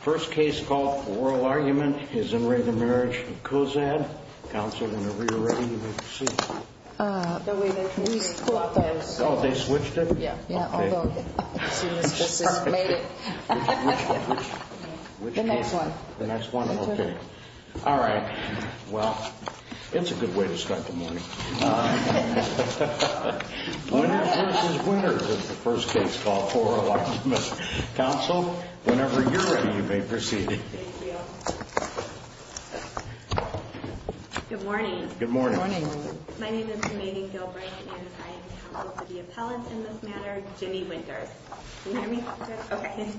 First case called for oral argument is Enraged Marriage of Cozad. Council, whenever you're ready, you may proceed. We switched it. Oh, they switched it? Yeah. Okay. As soon as this is made. Which case? The next one. The next one? Okay. Alright. Well, it's a good way to start the morning. Winters v. Winters is the first case called for oral argument. Council, whenever you're ready, you may proceed. Thank you. Good morning. Good morning. Good morning. My name is Janani Gilbreath, and I am counsel to the appellant in this matter, Jimmy Winters. Can you hear me? Okay.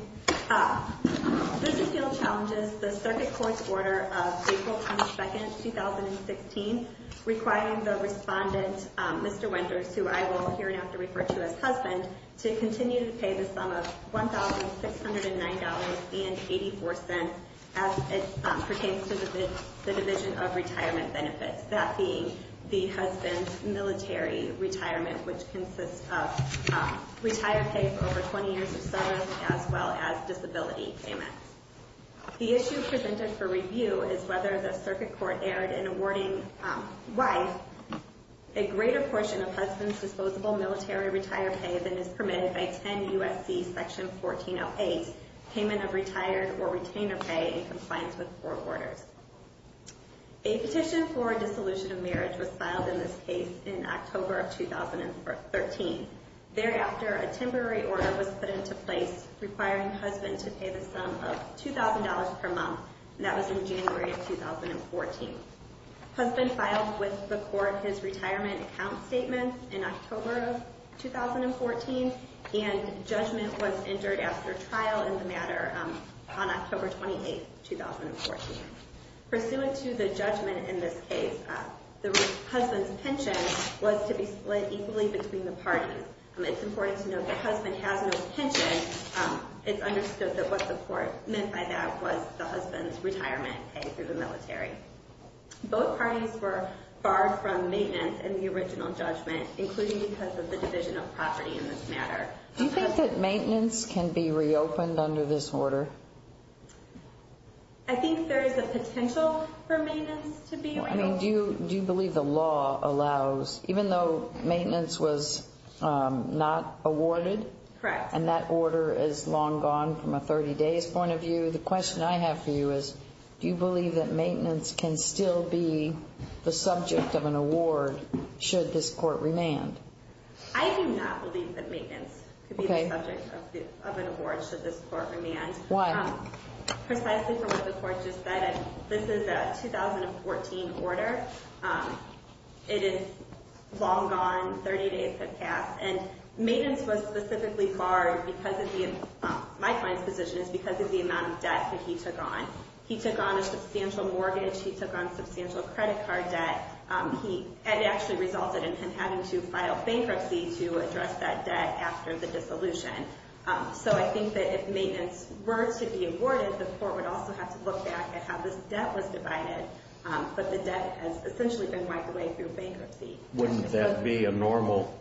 This appeal challenges the circuit court's order of April 22, 2016, requiring the respondent, Mr. Winters, who I will hereafter refer to as husband, to continue to pay the sum of $1,609.84 as it pertains to the Division of Retirement Benefits, that being the husband's military retirement, which consists of retired pay for over 20 years of service, as well as disability payments. The issue presented for review is whether the circuit court erred in awarding wife a greater portion of husband's disposable military retire pay than is permitted by 10 U.S.C. Section 1408, Payment of Retired or Retainer Pay in Compliance with Court Orders. A petition for dissolution of marriage was filed in this case in October of 2013. Thereafter, a temporary order was put into place requiring husband to pay the sum of $2,000 per month, and that was in January of 2014. Husband filed with the court his retirement account statement in October of 2014, and judgment was entered after trial in the matter on October 28, 2014. Pursuant to the judgment in this case, the husband's pension was to be split equally between the parties. It's important to note that husband has no pension. It's understood that what the court meant by that was the husband's retirement pay through the military. Both parties were barred from maintenance in the original judgment, including because of the division of property in this matter. Do you think that maintenance can be reopened under this order? I think there is a potential for maintenance to be reopened. Do you believe the law allows, even though maintenance was not awarded, and that order is long gone from a 30 days point of view, the question I have for you is do you believe that maintenance can still be the subject of an award should this court remand? I do not believe that maintenance could be the subject of an award should this court remand. Why? Precisely for what the court just said, this is a 2014 order. It is long gone, 30 days have passed, and maintenance was specifically barred because of the, my client's position is because of the amount of debt that he took on. He took on a substantial mortgage. He took on substantial credit card debt. It actually resulted in him having to file bankruptcy to address that debt after the dissolution. So I think that if maintenance were to be awarded, the court would also have to look back at how this debt was divided, but the debt has essentially been wiped away through bankruptcy. Wouldn't that be a normal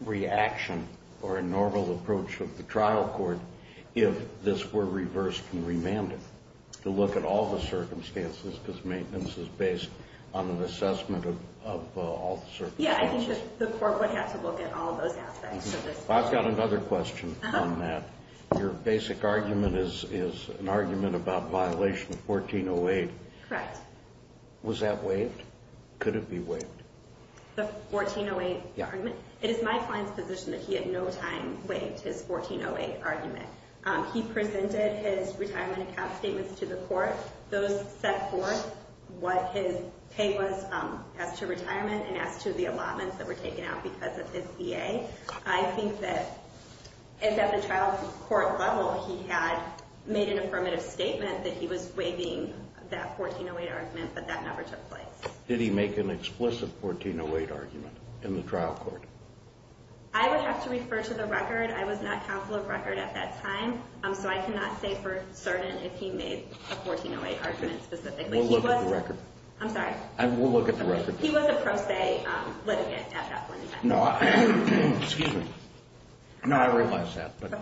reaction or a normal approach of the trial court if this were reversed and remanded, to look at all the circumstances because maintenance is based on an assessment of all the circumstances? Yeah, I think the court would have to look at all those aspects. I've got another question on that. Your basic argument is an argument about violation of 1408. Correct. Was that waived? Could it be waived? The 1408 argument? Yeah. It is my client's position that he at no time waived his 1408 argument. He presented his retirement account statements to the court. Those set forth what his pay was as to retirement and as to the allotments that were taken out because of his VA. I think that at the trial court level, he had made an affirmative statement that he was waiving that 1408 argument, but that never took place. Did he make an explicit 1408 argument in the trial court? I would have to refer to the record. I was not countful of record at that time, so I cannot say for certain if he made a 1408 argument specifically. We'll look at the record. I'm sorry? We'll look at the record. He was a pro se litigant at that point in time. No, I realize that, but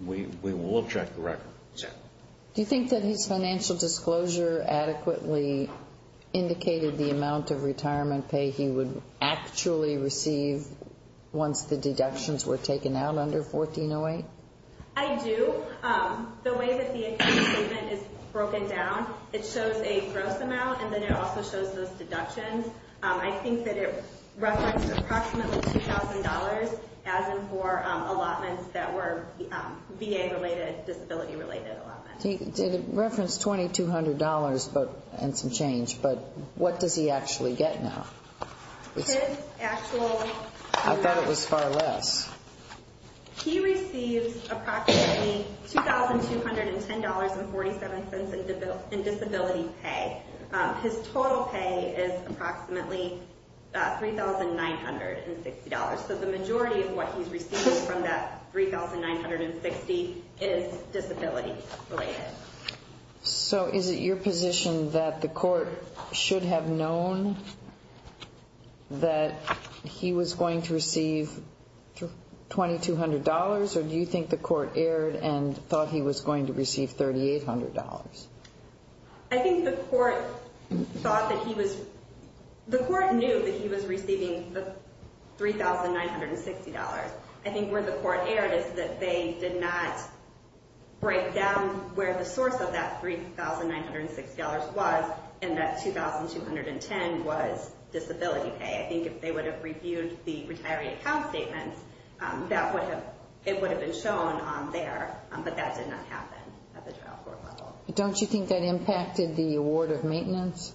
we will check the record. Do you think that his financial disclosure adequately indicated the amount of retirement pay he would actually receive once the deductions were taken out under 1408? I do. The way that the account statement is broken down, it shows a gross amount, and then it also shows those deductions. I think that it referenced approximately $2,000 as in for allotments that were VA-related, disability-related allotments. It referenced $2,200 and some change, but what does he actually get now? His actual amount. I thought it was far less. He receives approximately $2,210.47 in disability pay. His total pay is approximately $3,960. The majority of what he's receiving from that $3,960 is disability-related. Is it your position that the court should have known that he was going to receive $2,200, or do you think the court erred and thought he was going to receive $3,800? I think the court thought that he was... The court knew that he was receiving the $3,960. I think where the court erred is that they did not break down where the source of that $3,960 was and that $2,210 was disability pay. I think if they would have reviewed the retiree account statements, it would have been shown on there, but that did not happen at the trial court level. Don't you think that impacted the award of maintenance?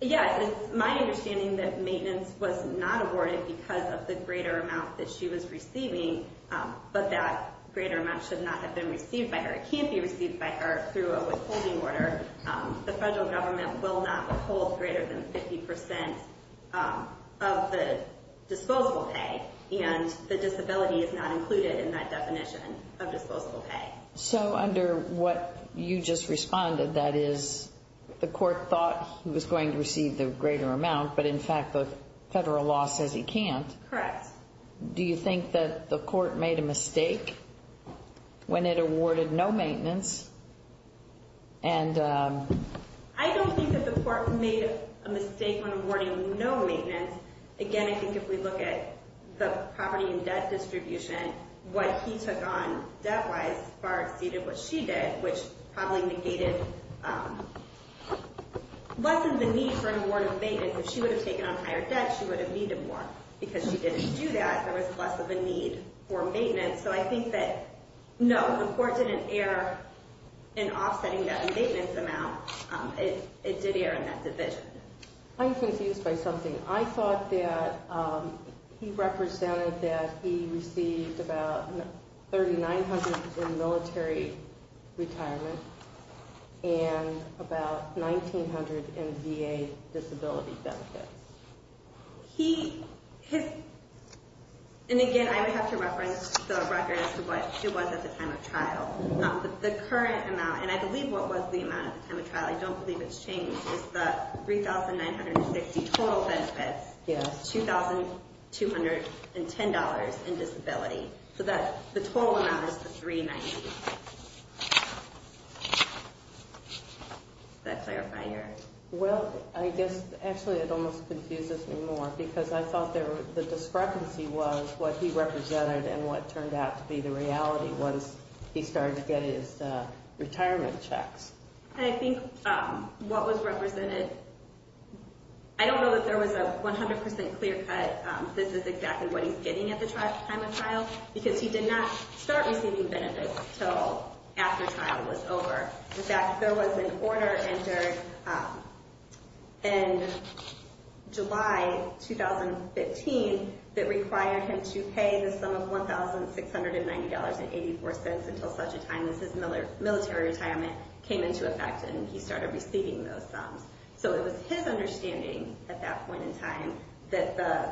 Yes. It's my understanding that maintenance was not awarded because of the greater amount that she was receiving, but that greater amount should not have been received by her. It can't be received by her through a withholding order. The federal government will not withhold greater than 50% of the disposable pay, and the disability is not included in that definition of disposable pay. So under what you just responded, that is, the court thought he was going to receive the greater amount, but in fact the federal law says he can't. Correct. Do you think that the court made a mistake when it awarded no maintenance? I don't think that the court made a mistake when awarding no maintenance. Again, I think if we look at the property and debt distribution, what he took on debt-wise far exceeded what she did, which probably lessened the need for an award of maintenance. If she would have taken on higher debt, she would have needed more. Because she didn't do that, there was less of a need for maintenance. So I think that, no, the court didn't err in offsetting that maintenance amount. It did err in that division. I'm confused by something. I thought that he represented that he received about 3,900 in military retirement and about 1,900 in VA disability benefits. And again, I would have to reference the record as to what it was at the time of trial. The current amount, and I believe what was the amount at the time of trial, I don't believe it's changed, is that 3,960 total benefits, $2,210 in disability. So the total amount is the 390. Does that clarify your... Well, I guess actually it almost confuses me more because I thought the discrepancy was what he represented and what turned out to be the reality once he started to get his retirement checks. I think what was represented, I don't know that there was a 100% clear cut this is exactly what he's getting at the time of trial because he did not start receiving benefits until after trial was over. In fact, there was an order entered in July 2015 that required him to pay the sum of $1,690.84 until such a time as his military retirement came into effect and he started receiving those sums. So it was his understanding at that point in time that the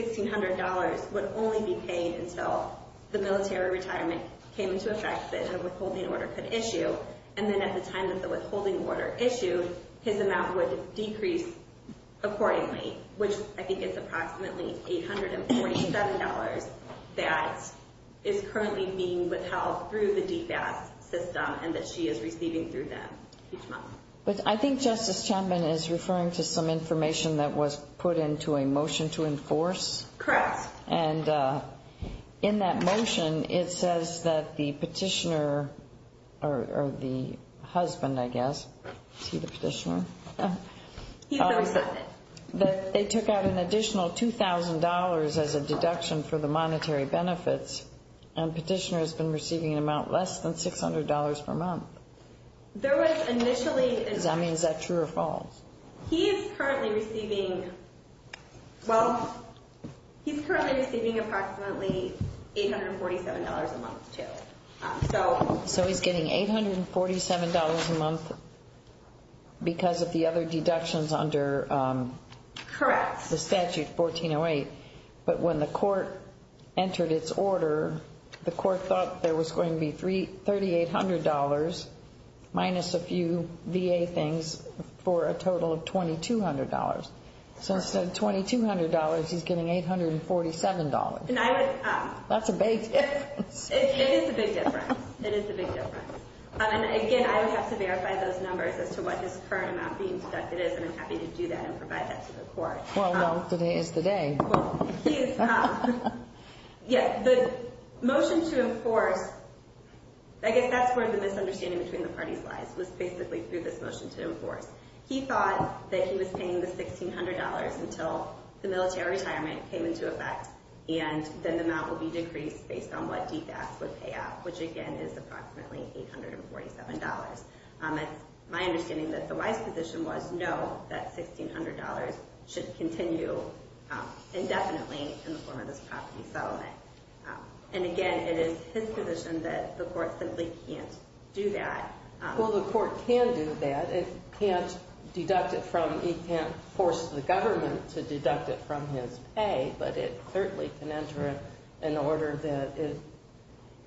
$1,600 would only be paid until the military retirement came into effect that a withholding order could issue. And then at the time that the withholding order issued, his amount would decrease accordingly, which I think is approximately $847 that is currently being withheld through the DFAS system and that she is receiving through them each month. But I think Justice Chapman is referring to some information that was put into a motion to enforce. Correct. And in that motion, it says that the petitioner or the husband, I guess, is he the petitioner? He's the recipient. That they took out an additional $2,000 as a deduction for the monetary benefits and petitioner has been receiving an amount less than $600 per month. There was initially Does that mean is that true or false? He is currently receiving approximately $847 a month too. So he's getting $847 a month because of the other deductions under the statute 1408. But when the court entered its order, the court thought there was going to be $3,800 minus a few VA things for a total of $2,200. So instead of $2,200, he's getting $847. That's a big difference. It is a big difference. It is a big difference. Again, I would have to verify those numbers as to what his current amount being deducted is, and I'm happy to do that and provide that to the court. Well, today is the day. Well, he is. The motion to enforce, I guess that's where the misunderstanding between the parties lies, was basically through this motion to enforce. He thought that he was paying the $1,600 until the military retirement came into effect and then the amount would be decreased based on what DFAS would pay up, which, again, is approximately $847. It's my understanding that the wise position was, no, that $1,600 should continue indefinitely in the form of this property settlement. And, again, it is his position that the court simply can't do that. Well, the court can do that. It can't deduct it from, it can't force the government to deduct it from his pay, but it certainly can enter it in order that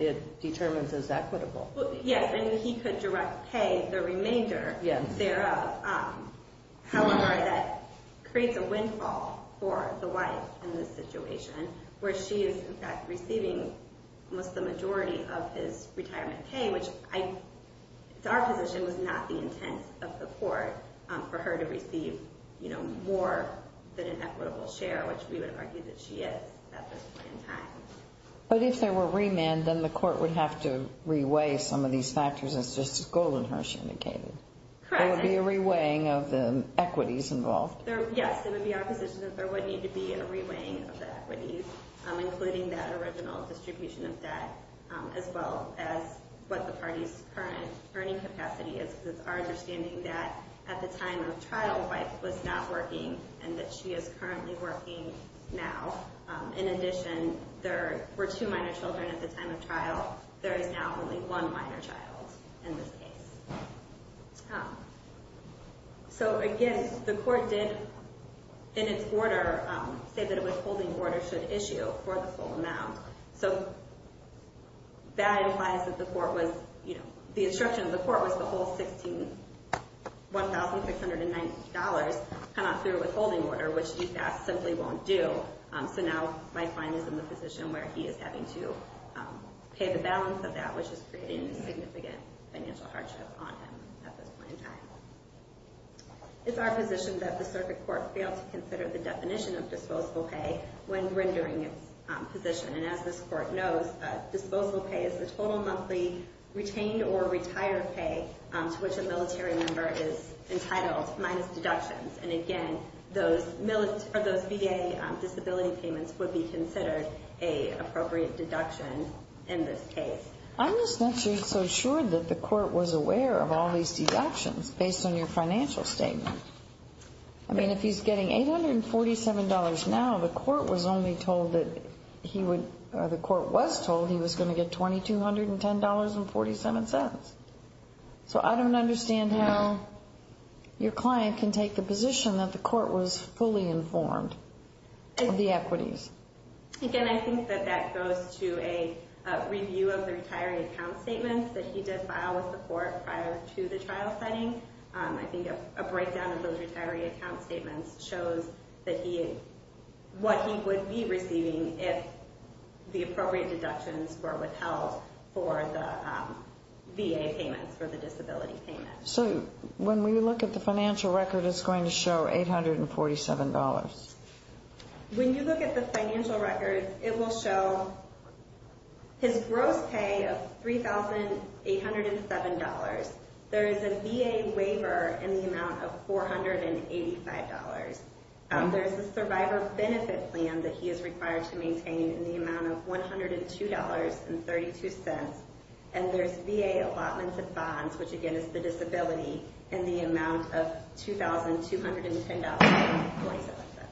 it determines as equitable. Yes, and he could direct pay the remainder thereof. However, that creates a windfall for the wife in this situation, where she is, in fact, receiving almost the majority of his retirement pay, which to our position was not the intent of the court for her to receive more than an equitable share, which we would argue that she is at this point in time. But if there were remand, then the court would have to reweigh some of these factors, as Justice Goldenhurst indicated. Correct. There would be a reweighing of the equities involved. Yes, it would be our position that there would need to be a reweighing of the equities, including that original distribution of debt, as well as what the party's current earning capacity is, because it's our understanding that at the time of trial, the wife was not working and that she is currently working now. In addition, there were two minor children at the time of trial. There is now only one minor child in this case. So, again, the court did, in its order, say that a withholding order should issue for the full amount. So that implies that the instruction of the court was the whole $1,690 come out through a withholding order, which DFS simply won't do. So now my client is in the position where he is having to pay the balance of that, which is creating a significant financial hardship on him at this point in time. It's our position that the circuit court failed to consider the definition of disposable pay when rendering its position. And as this court knows, disposable pay is the total monthly retained or retired pay to which a military member is entitled, minus deductions. And, again, those VA disability payments would be considered an appropriate deduction in this case. I'm just not so sure that the court was aware of all these deductions based on your financial statement. I mean, if he's getting $847 now, the court was only told that he would, or the court was told he was going to get $2,210.47. So I don't understand how your client can take the position that the court was fully informed of the equities. Again, I think that that goes to a review of the retiring account statements that he did file with the court prior to the trial setting. I think a breakdown of those retiree account statements shows what he would be receiving if the appropriate deductions were withheld for the VA payments, for the disability payments. So when we look at the financial record, it's going to show $847. When you look at the financial record, it will show his gross pay of $3,807. There is a VA waiver in the amount of $485. There's a survivor benefit plan that he is required to maintain in the amount of $102.32. And there's VA allotments and bonds, which again is the disability, in the amount of $2,210.47.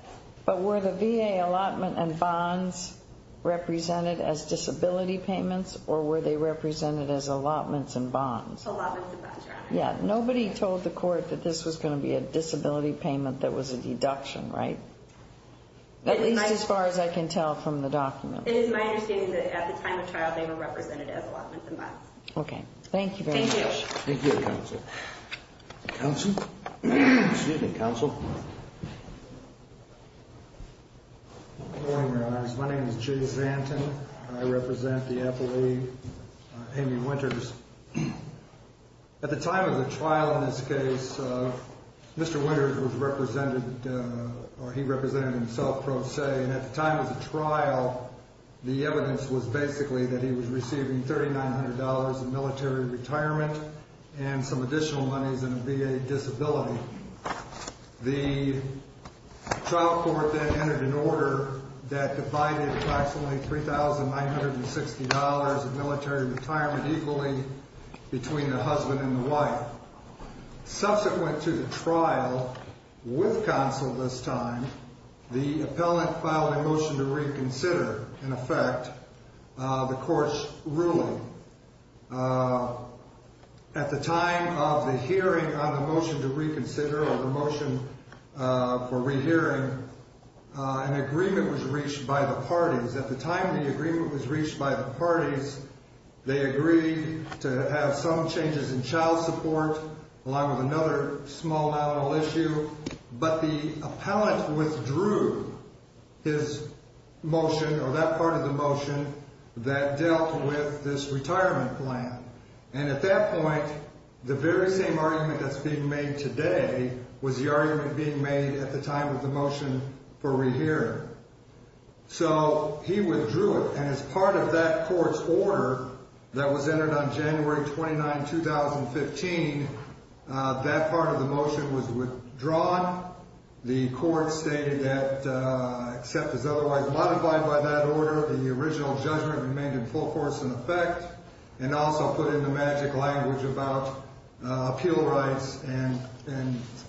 But were the VA allotment and bonds represented as disability payments, or were they represented as allotments and bonds? Allotments and bonds, Your Honor. Yeah. Nobody told the court that this was going to be a disability payment that was a deduction, right? At least as far as I can tell from the document. It is my understanding that at the time of trial, they were represented as allotments and bonds. Okay. Thank you very much. Thank you. Thank you, Counsel. Counsel? Excuse me, Counsel. Good morning, Your Honors. My name is Jay Zanton, and I represent the appellee, Amy Winters. At the time of the trial in this case, Mr. Winters was represented, or he represented himself pro se. And at the time of the trial, the evidence was basically that he was receiving $3,900 in military retirement and some additional monies in a VA disability. The trial court then entered an order that divided approximately $3,960 of military retirement equally between the husband and the wife. Subsequent to the trial with counsel this time, the appellant filed a motion to reconsider, in effect, the court's ruling. At the time of the hearing on the motion to reconsider, or the motion for rehearing, an agreement was reached by the parties. At the time the agreement was reached by the parties, they agreed to have some changes in child support, along with another small, not at all issue. But the appellant withdrew his motion, or that part of the motion, that dealt with this retirement plan. And at that point, the very same argument that's being made today was the argument being made at the time of the motion for rehearing. So he withdrew it, and as part of that court's order that was entered on January 29, 2015, that part of the motion was withdrawn. The court stated that except as otherwise modified by that order, the original judgment remained in full force in effect, and also put in the magic language about appeal rights and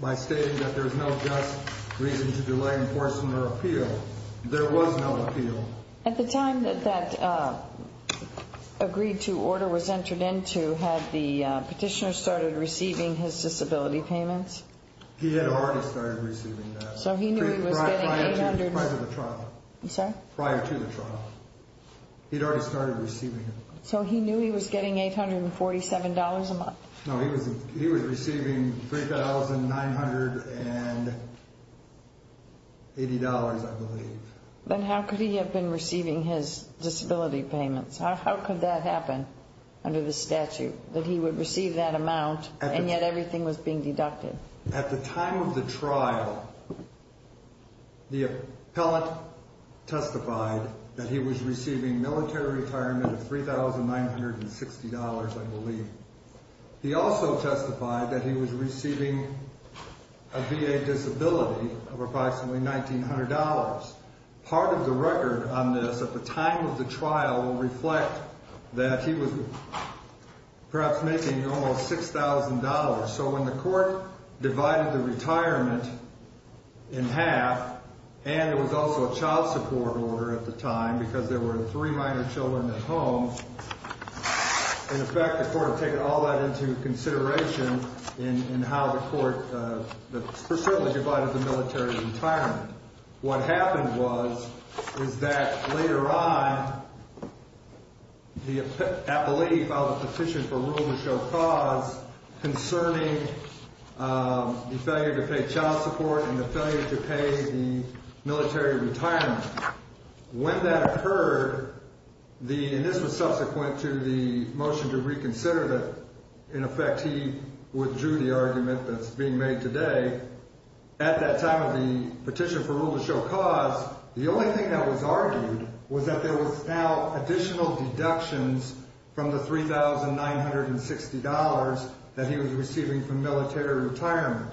by stating that there's no just reason to delay enforcement or appeal. There was no appeal. At the time that that agreed-to order was entered into, had the petitioner started receiving his disability payments? He had already started receiving them. So he knew he was getting 800... Prior to the trial. I'm sorry? Prior to the trial. He'd already started receiving them. So he knew he was getting $847 a month? No, he was receiving $3,980, I believe. Then how could he have been receiving his disability payments? How could that happen under the statute, that he would receive that amount, and yet everything was being deducted? At the time of the trial, the appellant testified that he was receiving military retirement of $3,960, I believe. He also testified that he was receiving a VA disability of approximately $1,900. Part of the record on this at the time of the trial will reflect that he was perhaps making almost $6,000. So when the court divided the retirement in half, and it was also a child support order at the time because there were three minor children at home, in effect, the court had taken all that into consideration in how the court... certainly divided the military retirement. What happened was, is that later on, the appellee filed a petition for rule to show cause concerning the failure to pay child support and the failure to pay the military retirement. When that occurred, and this was subsequent to the motion to reconsider that, in effect, he withdrew the argument that's being made today, at that time of the petition for rule to show cause, the only thing that was argued was that there was now additional deductions from the $3,960 that he was receiving from military retirement.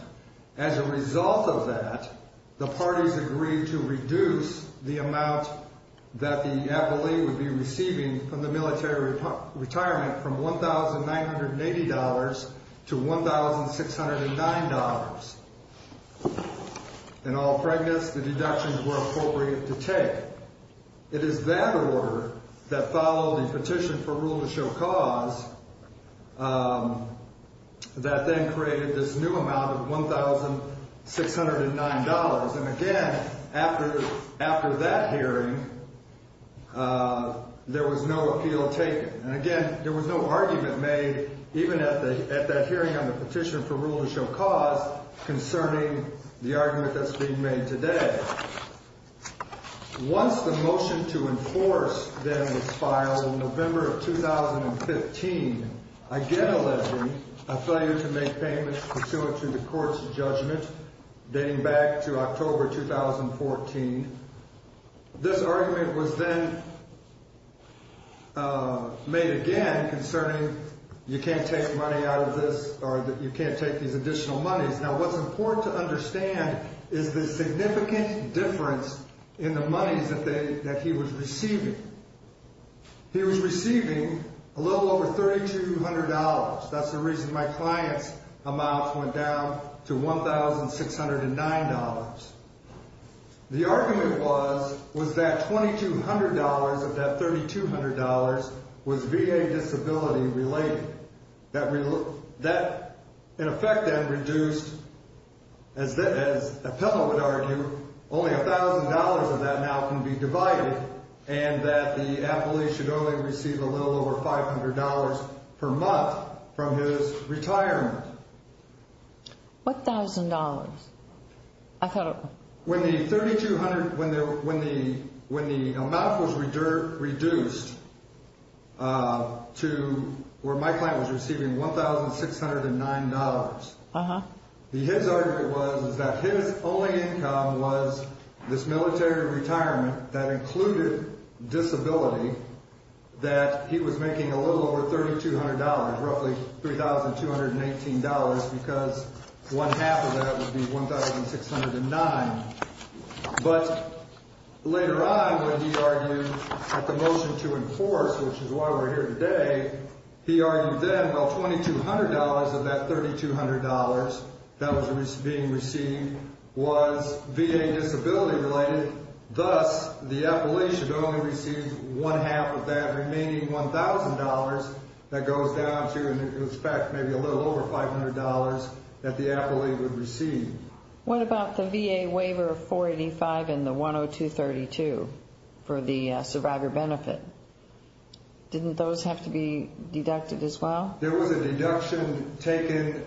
As a result of that, the parties agreed to reduce the amount that the appellee would be receiving from the military retirement from $1,980 to $1,609. In all pregnancy, the deductions were appropriate to take. It is that order that followed the petition for rule to show cause that then created this new amount of $1,609. And again, after that hearing, there was no appeal taken. And again, there was no argument made even at that hearing on the petition for rule to show cause concerning the argument that's being made today. Once the motion to enforce then was filed in November of 2015, again alleging a failure to make payments pursuant to the court's judgment dating back to October 2014, this argument was then made again concerning you can't take money out of this or that you can't take these additional monies. Now, what's important to understand is the significant difference in the monies that he was receiving. He was receiving a little over $3,200. That's the reason my client's amounts went down to $1,609. The argument was, was that $2,200 of that $3,200 was VA disability related. That in effect then reduced, as Appellant would argue, only $1,000 of that now can be divided, and that the appellee should only receive a little over $500 per month from his retirement. What $1,000? When the 3,200, when the amount was reduced to where my client was receiving $1,609, his argument was that his only income was this military retirement that included disability, that he was making a little over $3,200, roughly $3,218, because one half of that would be $1,609. But later on when he argued at the motion to enforce, which is why we're here today, he argued then, well, $2,200 of that $3,200 that was being received was VA disability related. Thus, the appellee should only receive one half of that remaining $1,000 that goes down to, in effect, maybe a little over $500 that the appellee would receive. What about the VA waiver of 485 and the 102-32 for the survivor benefit? Didn't those have to be deducted as well? There was a deduction taken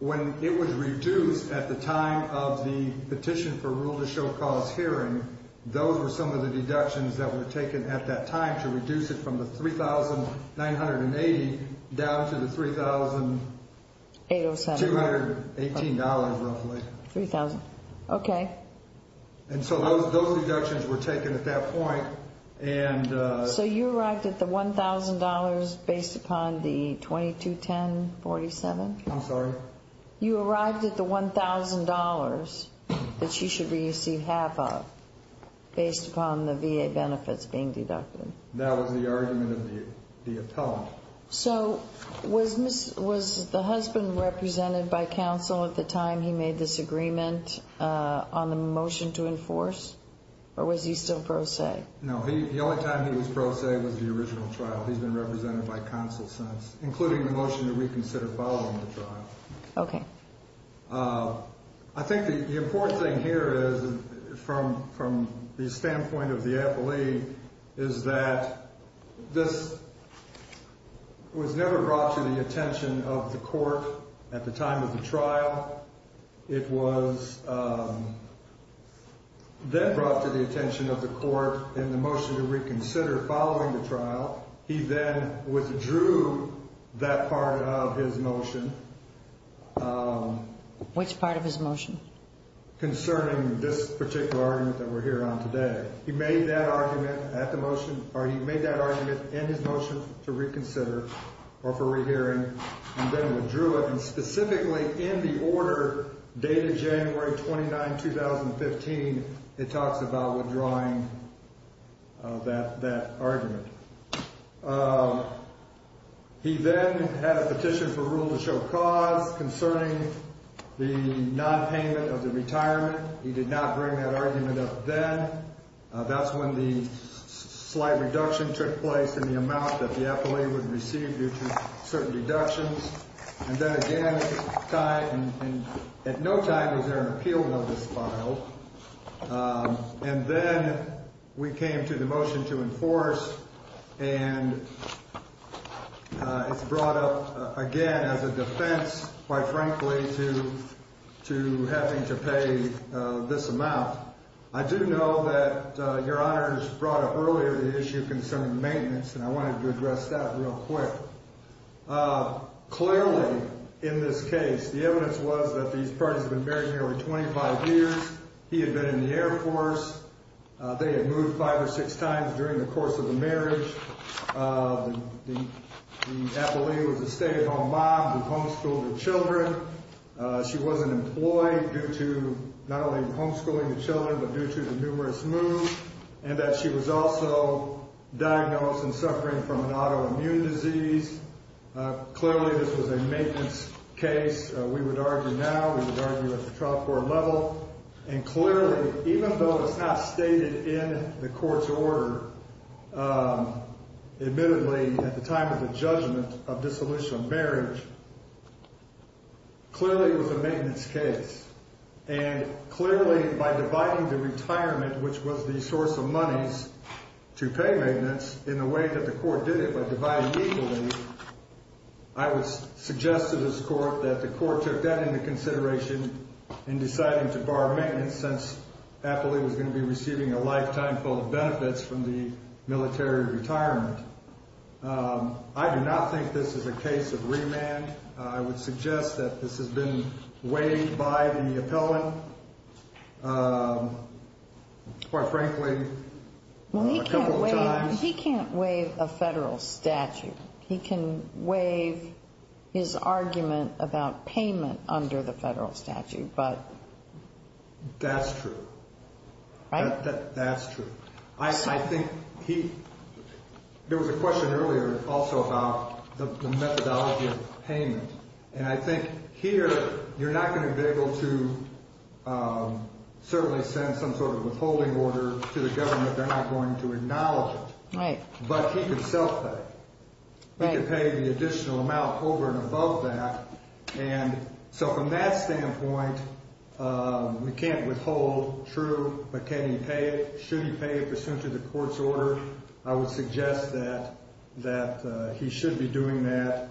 when it was reduced at the time of the petition for rule to show cause hearing. Those were some of the deductions that were taken at that time to reduce it from the $3,980 down to the $3,218, roughly. $3,000. Okay. Those deductions were taken at that point. So you arrived at the $1,000 based upon the 22-10-47? I'm sorry? You arrived at the $1,000 that she should receive half of based upon the VA benefits being deducted. That was the argument of the appellant. So was the husband represented by counsel at the time he made this agreement on the motion to enforce, or was he still pro se? No, the only time he was pro se was the original trial. He's been represented by counsel since, including the motion that we considered following the trial. Okay. I think the important thing here is, from the standpoint of the appellee, is that this was never brought to the attention of the court at the time of the trial. It was then brought to the attention of the court in the motion to reconsider following the trial. He then withdrew that part of his motion. Which part of his motion? Concerning this particular argument that we're hearing on today. He made that argument at the motion, or he made that argument in his motion to reconsider or for rehearing, and then withdrew it, and specifically in the order dated January 29, 2015, it talks about withdrawing that argument. He then had a petition for rule to show cause concerning the nonpayment of the retirement. He did not bring that argument up then. That's when the slight reduction took place in the amount that the appellee would receive due to certain reductions. And then again, at no time was there an appeal notice filed. And then we came to the motion to enforce, and it's brought up again as a defense, quite frankly, to having to pay this amount. I do know that Your Honor has brought up earlier the issue concerning maintenance, and I wanted to address that real quick. Clearly, in this case, the evidence was that these parties had been married nearly 25 years. He had been in the Air Force. They had moved five or six times during the course of the marriage. The appellee was a stay-at-home mom who homeschooled her children. She wasn't employed due to not only homeschooling the children but due to the numerous moves, and that she was also diagnosed and suffering from an autoimmune disease. Clearly, this was a maintenance case. We would argue now. We would argue at the trial court level. And clearly, even though it's not stated in the court's order, admittedly, at the time of the judgment of dissolution of marriage, clearly it was a maintenance case. And clearly, by dividing the retirement, which was the source of monies to pay maintenance, in the way that the court did it, by dividing equally, I would suggest to this court that the court took that into consideration in deciding to bar maintenance since the appellee was going to be receiving a lifetime full of benefits from the military retirement. I do not think this is a case of remand. I would suggest that this has been waived by the appellant, quite frankly, a couple of times. Well, he can't waive a federal statute. He can waive his argument about payment under the federal statute, but... That's true. Right? That's true. I think there was a question earlier also about the methodology of payment. And I think here you're not going to be able to certainly send some sort of withholding order to the government. They're not going to acknowledge it. Right. But he can self-pay. Right. He can pay the additional amount over and above that. And so from that standpoint, we can't withhold. True. But can he pay it? Should he pay it pursuant to the court's order? I would suggest that he should be doing that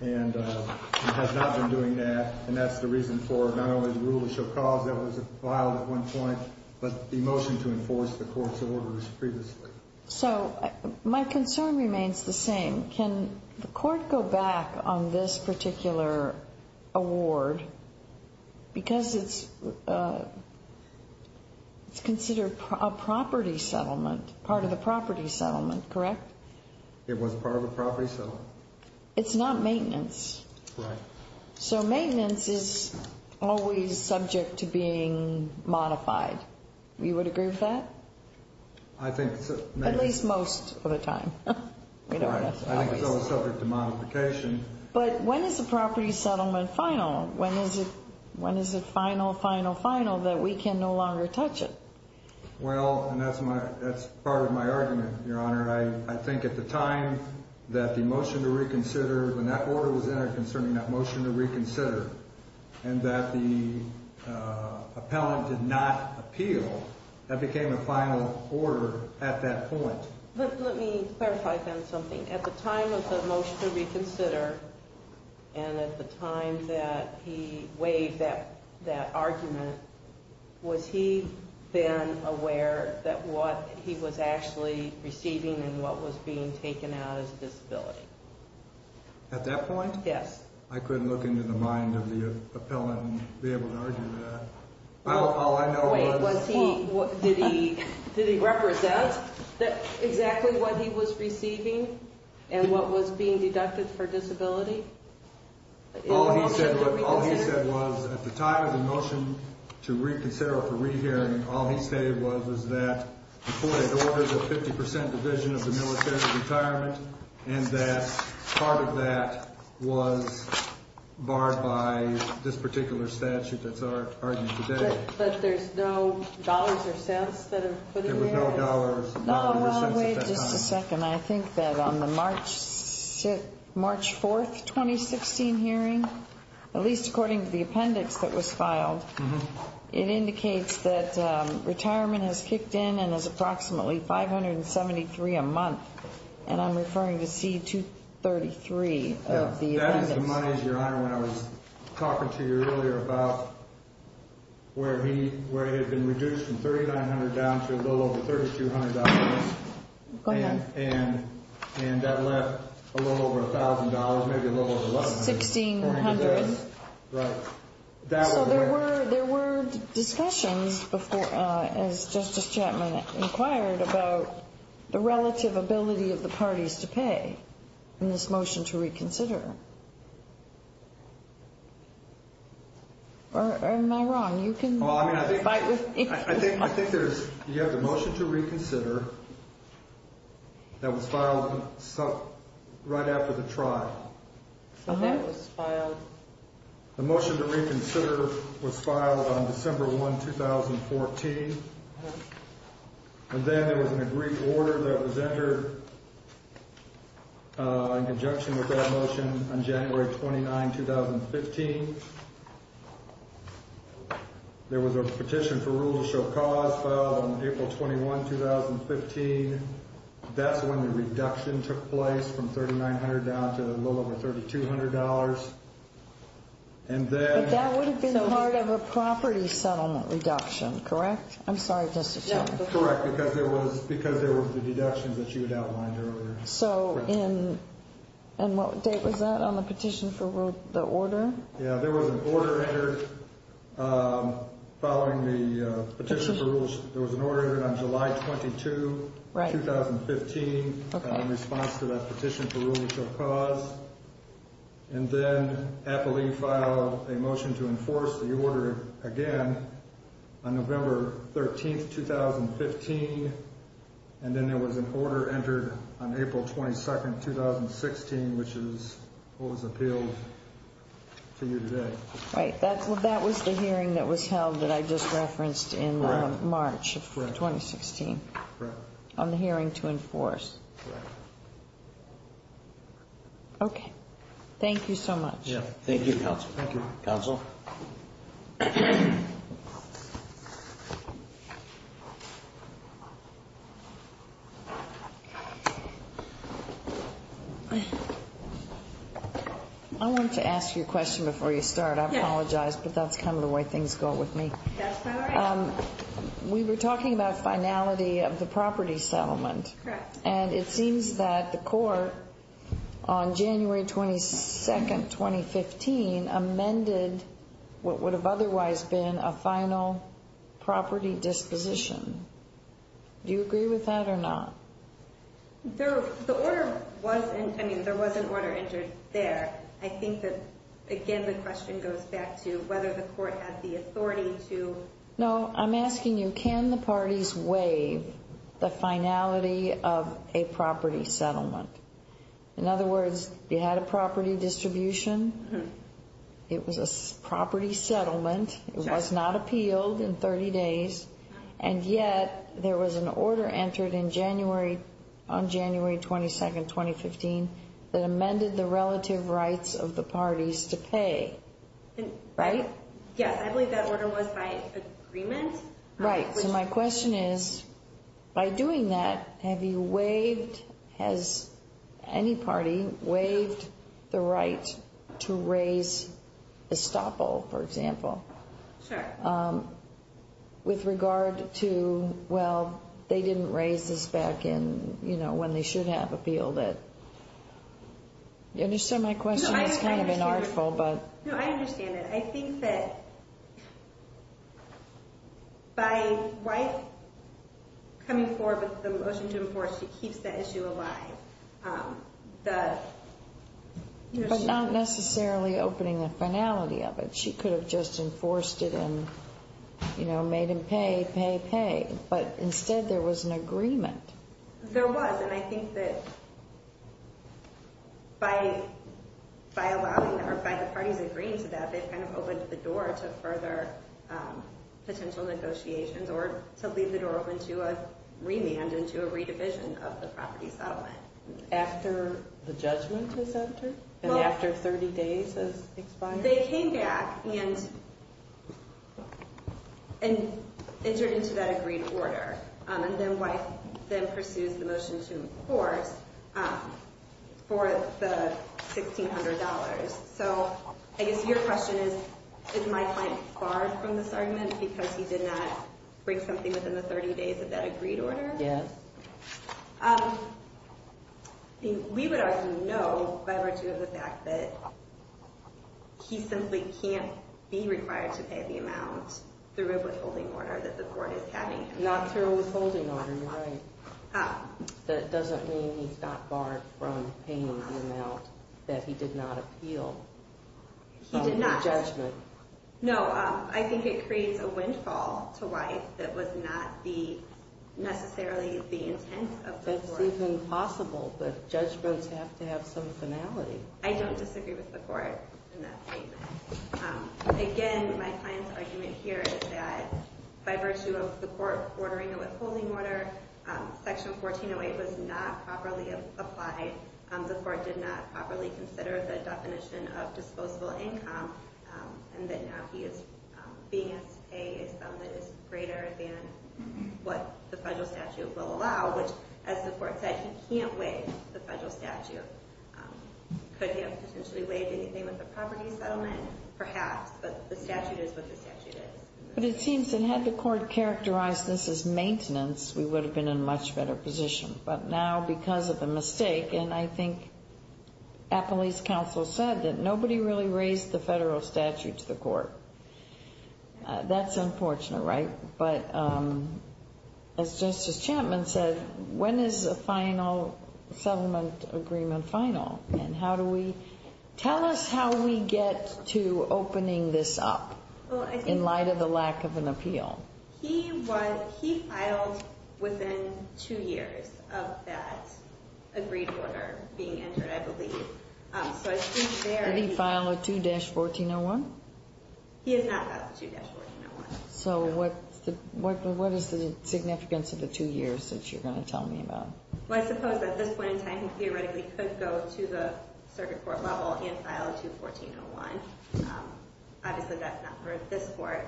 and has not been doing that. And that's the reason for not only the rule of show cause that was filed at one point, but the motion to enforce the court's orders previously. So my concern remains the same. Can the court go back on this particular award? Because it's considered a property settlement, part of the property settlement, correct? It was part of a property settlement. It's not maintenance. Right. So maintenance is always subject to being modified. You would agree with that? At least most of the time. Right. I think it's always subject to modification. But when is the property settlement final? When is it final, final, final that we can no longer touch it? Well, and that's part of my argument, Your Honor. I think at the time that the motion to reconsider, when that order was entered concerning that motion to reconsider and that the appellant did not appeal, that became a final order at that point. Let me clarify then something. At the time of the motion to reconsider and at the time that he waived that argument, was he then aware that what he was actually receiving and what was being taken out is a disability? At that point? Yes. I couldn't look into the mind of the appellant and be able to argue that. All I know was— Wait, was he—did he represent exactly what he was receiving and what was being deducted for disability? All he said was at the time of the motion to reconsider or for rehearing, all he stated was that the 48 orders of 50 percent division of the military retirement and that part of that was barred by this particular statute that's argued today. But there's no dollars or cents that are put in there? There was no dollars or cents at that time. No, well, wait just a second. I think that on the March 4, 2016 hearing, at least according to the appendix that was filed, it indicates that retirement has kicked in and is approximately 573 a month. And I'm referring to C-233 of the appendix. That is the money, Your Honor, when I was talking to you earlier about where he had been reduced from 3,900 down to a little over $3,200. Go ahead. And that left a little over $1,000, maybe a little over $1,100. $1,600. Right. So there were discussions, as Justice Chapman inquired, about the relative ability of the parties to pay in this motion to reconsider. Or am I wrong? You can fight with me. I think you have the motion to reconsider that was filed right after the trial. So that was filed. The motion to reconsider was filed on December 1, 2014. And then there was an agreed order that was entered in conjunction with that motion on January 29, 2015. There was a petition for rule to show cause filed on April 21, 2015. That's when the reduction took place from 3,900 down to a little over $3,200. But that would have been part of a property settlement reduction, correct? I'm sorry, Justice Chapman. Correct, because there were the deductions that you had outlined earlier. And what date was that on the petition for the order? Yeah, there was an order entered following the petition for rules. There was an order entered on July 22, 2015 in response to that petition for rule to show cause. And then Appalee filed a motion to enforce the order again on November 13, 2015. And then there was an order entered on April 22, 2016, which is what was appealed to you today. Right. Well, that was the hearing that was held that I just referenced in March of 2016. Correct. On the hearing to enforce. Correct. Okay. Thank you so much. Yeah. Thank you, Counsel. Thank you. Counsel? I want to ask you a question before you start. I apologize, but that's kind of the way things go with me. That's all right. We were talking about finality of the property settlement. Correct. And it seems that the court, on January 22, 2015, amended what would have otherwise been a final property disposition. Do you agree with that or not? The order wasn't, I mean, there was an order entered there. I think that, again, the question goes back to whether the court had the authority to. No, I'm asking you, can the parties waive the finality of a property settlement? In other words, you had a property distribution, it was a property settlement, it was not appealed in 30 days, and yet there was an order entered on January 22, 2015, that amended the relative rights of the parties to pay. Right? Yes, I believe that order was by agreement. Right. So my question is, by doing that, have you waived, has any party waived the right to raise estoppel, for example? Sure. With regard to, well, they didn't raise this back in, you know, when they should have appealed it. You understand my question? It's kind of an artful, but. No, I understand it. I think that by coming forward with the motion to enforce, it keeps the issue alive. But not necessarily opening the finality of it. She could have just enforced it and, you know, made him pay, pay, pay, but instead there was an agreement. There was, and I think that by allowing, or by the parties agreeing to that, they've kind of opened the door to further potential negotiations, or to leave the door open to a remand, into a redivision of the property settlement. After the judgment was entered? Well. And after 30 days has expired? They came back and entered into that agreed order, and then wife then pursues the motion to enforce for the $1,600. So I guess your question is, is my client barred from this argument because he did not break something within the 30 days of that agreed order? Yes. We would argue no, by virtue of the fact that he simply can't be required to pay the amount through a withholding order that the court is having him pay. Not through a withholding order, you're right. Oh. That doesn't mean he's not barred from paying the amount that he did not appeal. He did not. In the judgment. No, I think it creates a windfall to wife that was not necessarily the intent of the court. That's even possible, but judgments have to have some finality. I don't disagree with the court in that statement. Again, my client's argument here is that by virtue of the court ordering a withholding order, Section 1408 was not properly applied. The court did not properly consider the definition of disposable income, and that now he is being asked to pay a sum that is greater than what the federal statute will allow, which, as the court said, he can't waive the federal statute. Could he have potentially waived anything with a property settlement? Perhaps, but the statute is what the statute is. But it seems that had the court characterized this as maintenance, we would have been in a much better position. But now, because of the mistake, and I think Appley's counsel said that nobody really raised the federal statute to the court. That's unfortunate, right? But as Justice Chapman said, when is a final settlement agreement final? And how do we – tell us how we get to opening this up in light of the lack of an appeal. He filed within two years of that agreed order being entered, I believe. Did he file a 2-1401? He has not filed a 2-1401. So what is the significance of the two years that you're going to tell me about? Well, I suppose at this point in time he theoretically could go to the circuit court level and file a 21401. Obviously, that's not for this court.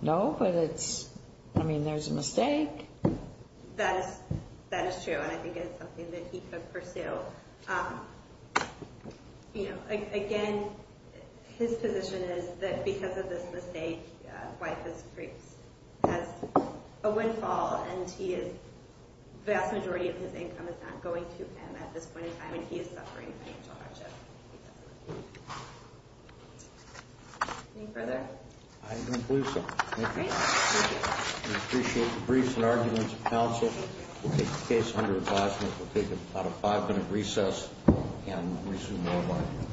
No, but it's – I mean, there's a mistake. That is true, and I think it's something that he could pursue. Again, his position is that because of this mistake, White has a windfall, and he is – the vast majority of his income is not going to him at this point in time, and he is suffering financial hardship. Any further? I don't believe so. Thank you. Great. We appreciate the briefs and arguments of counsel. We'll take the case under advisement. We'll take about a five-minute recess and resume our argument.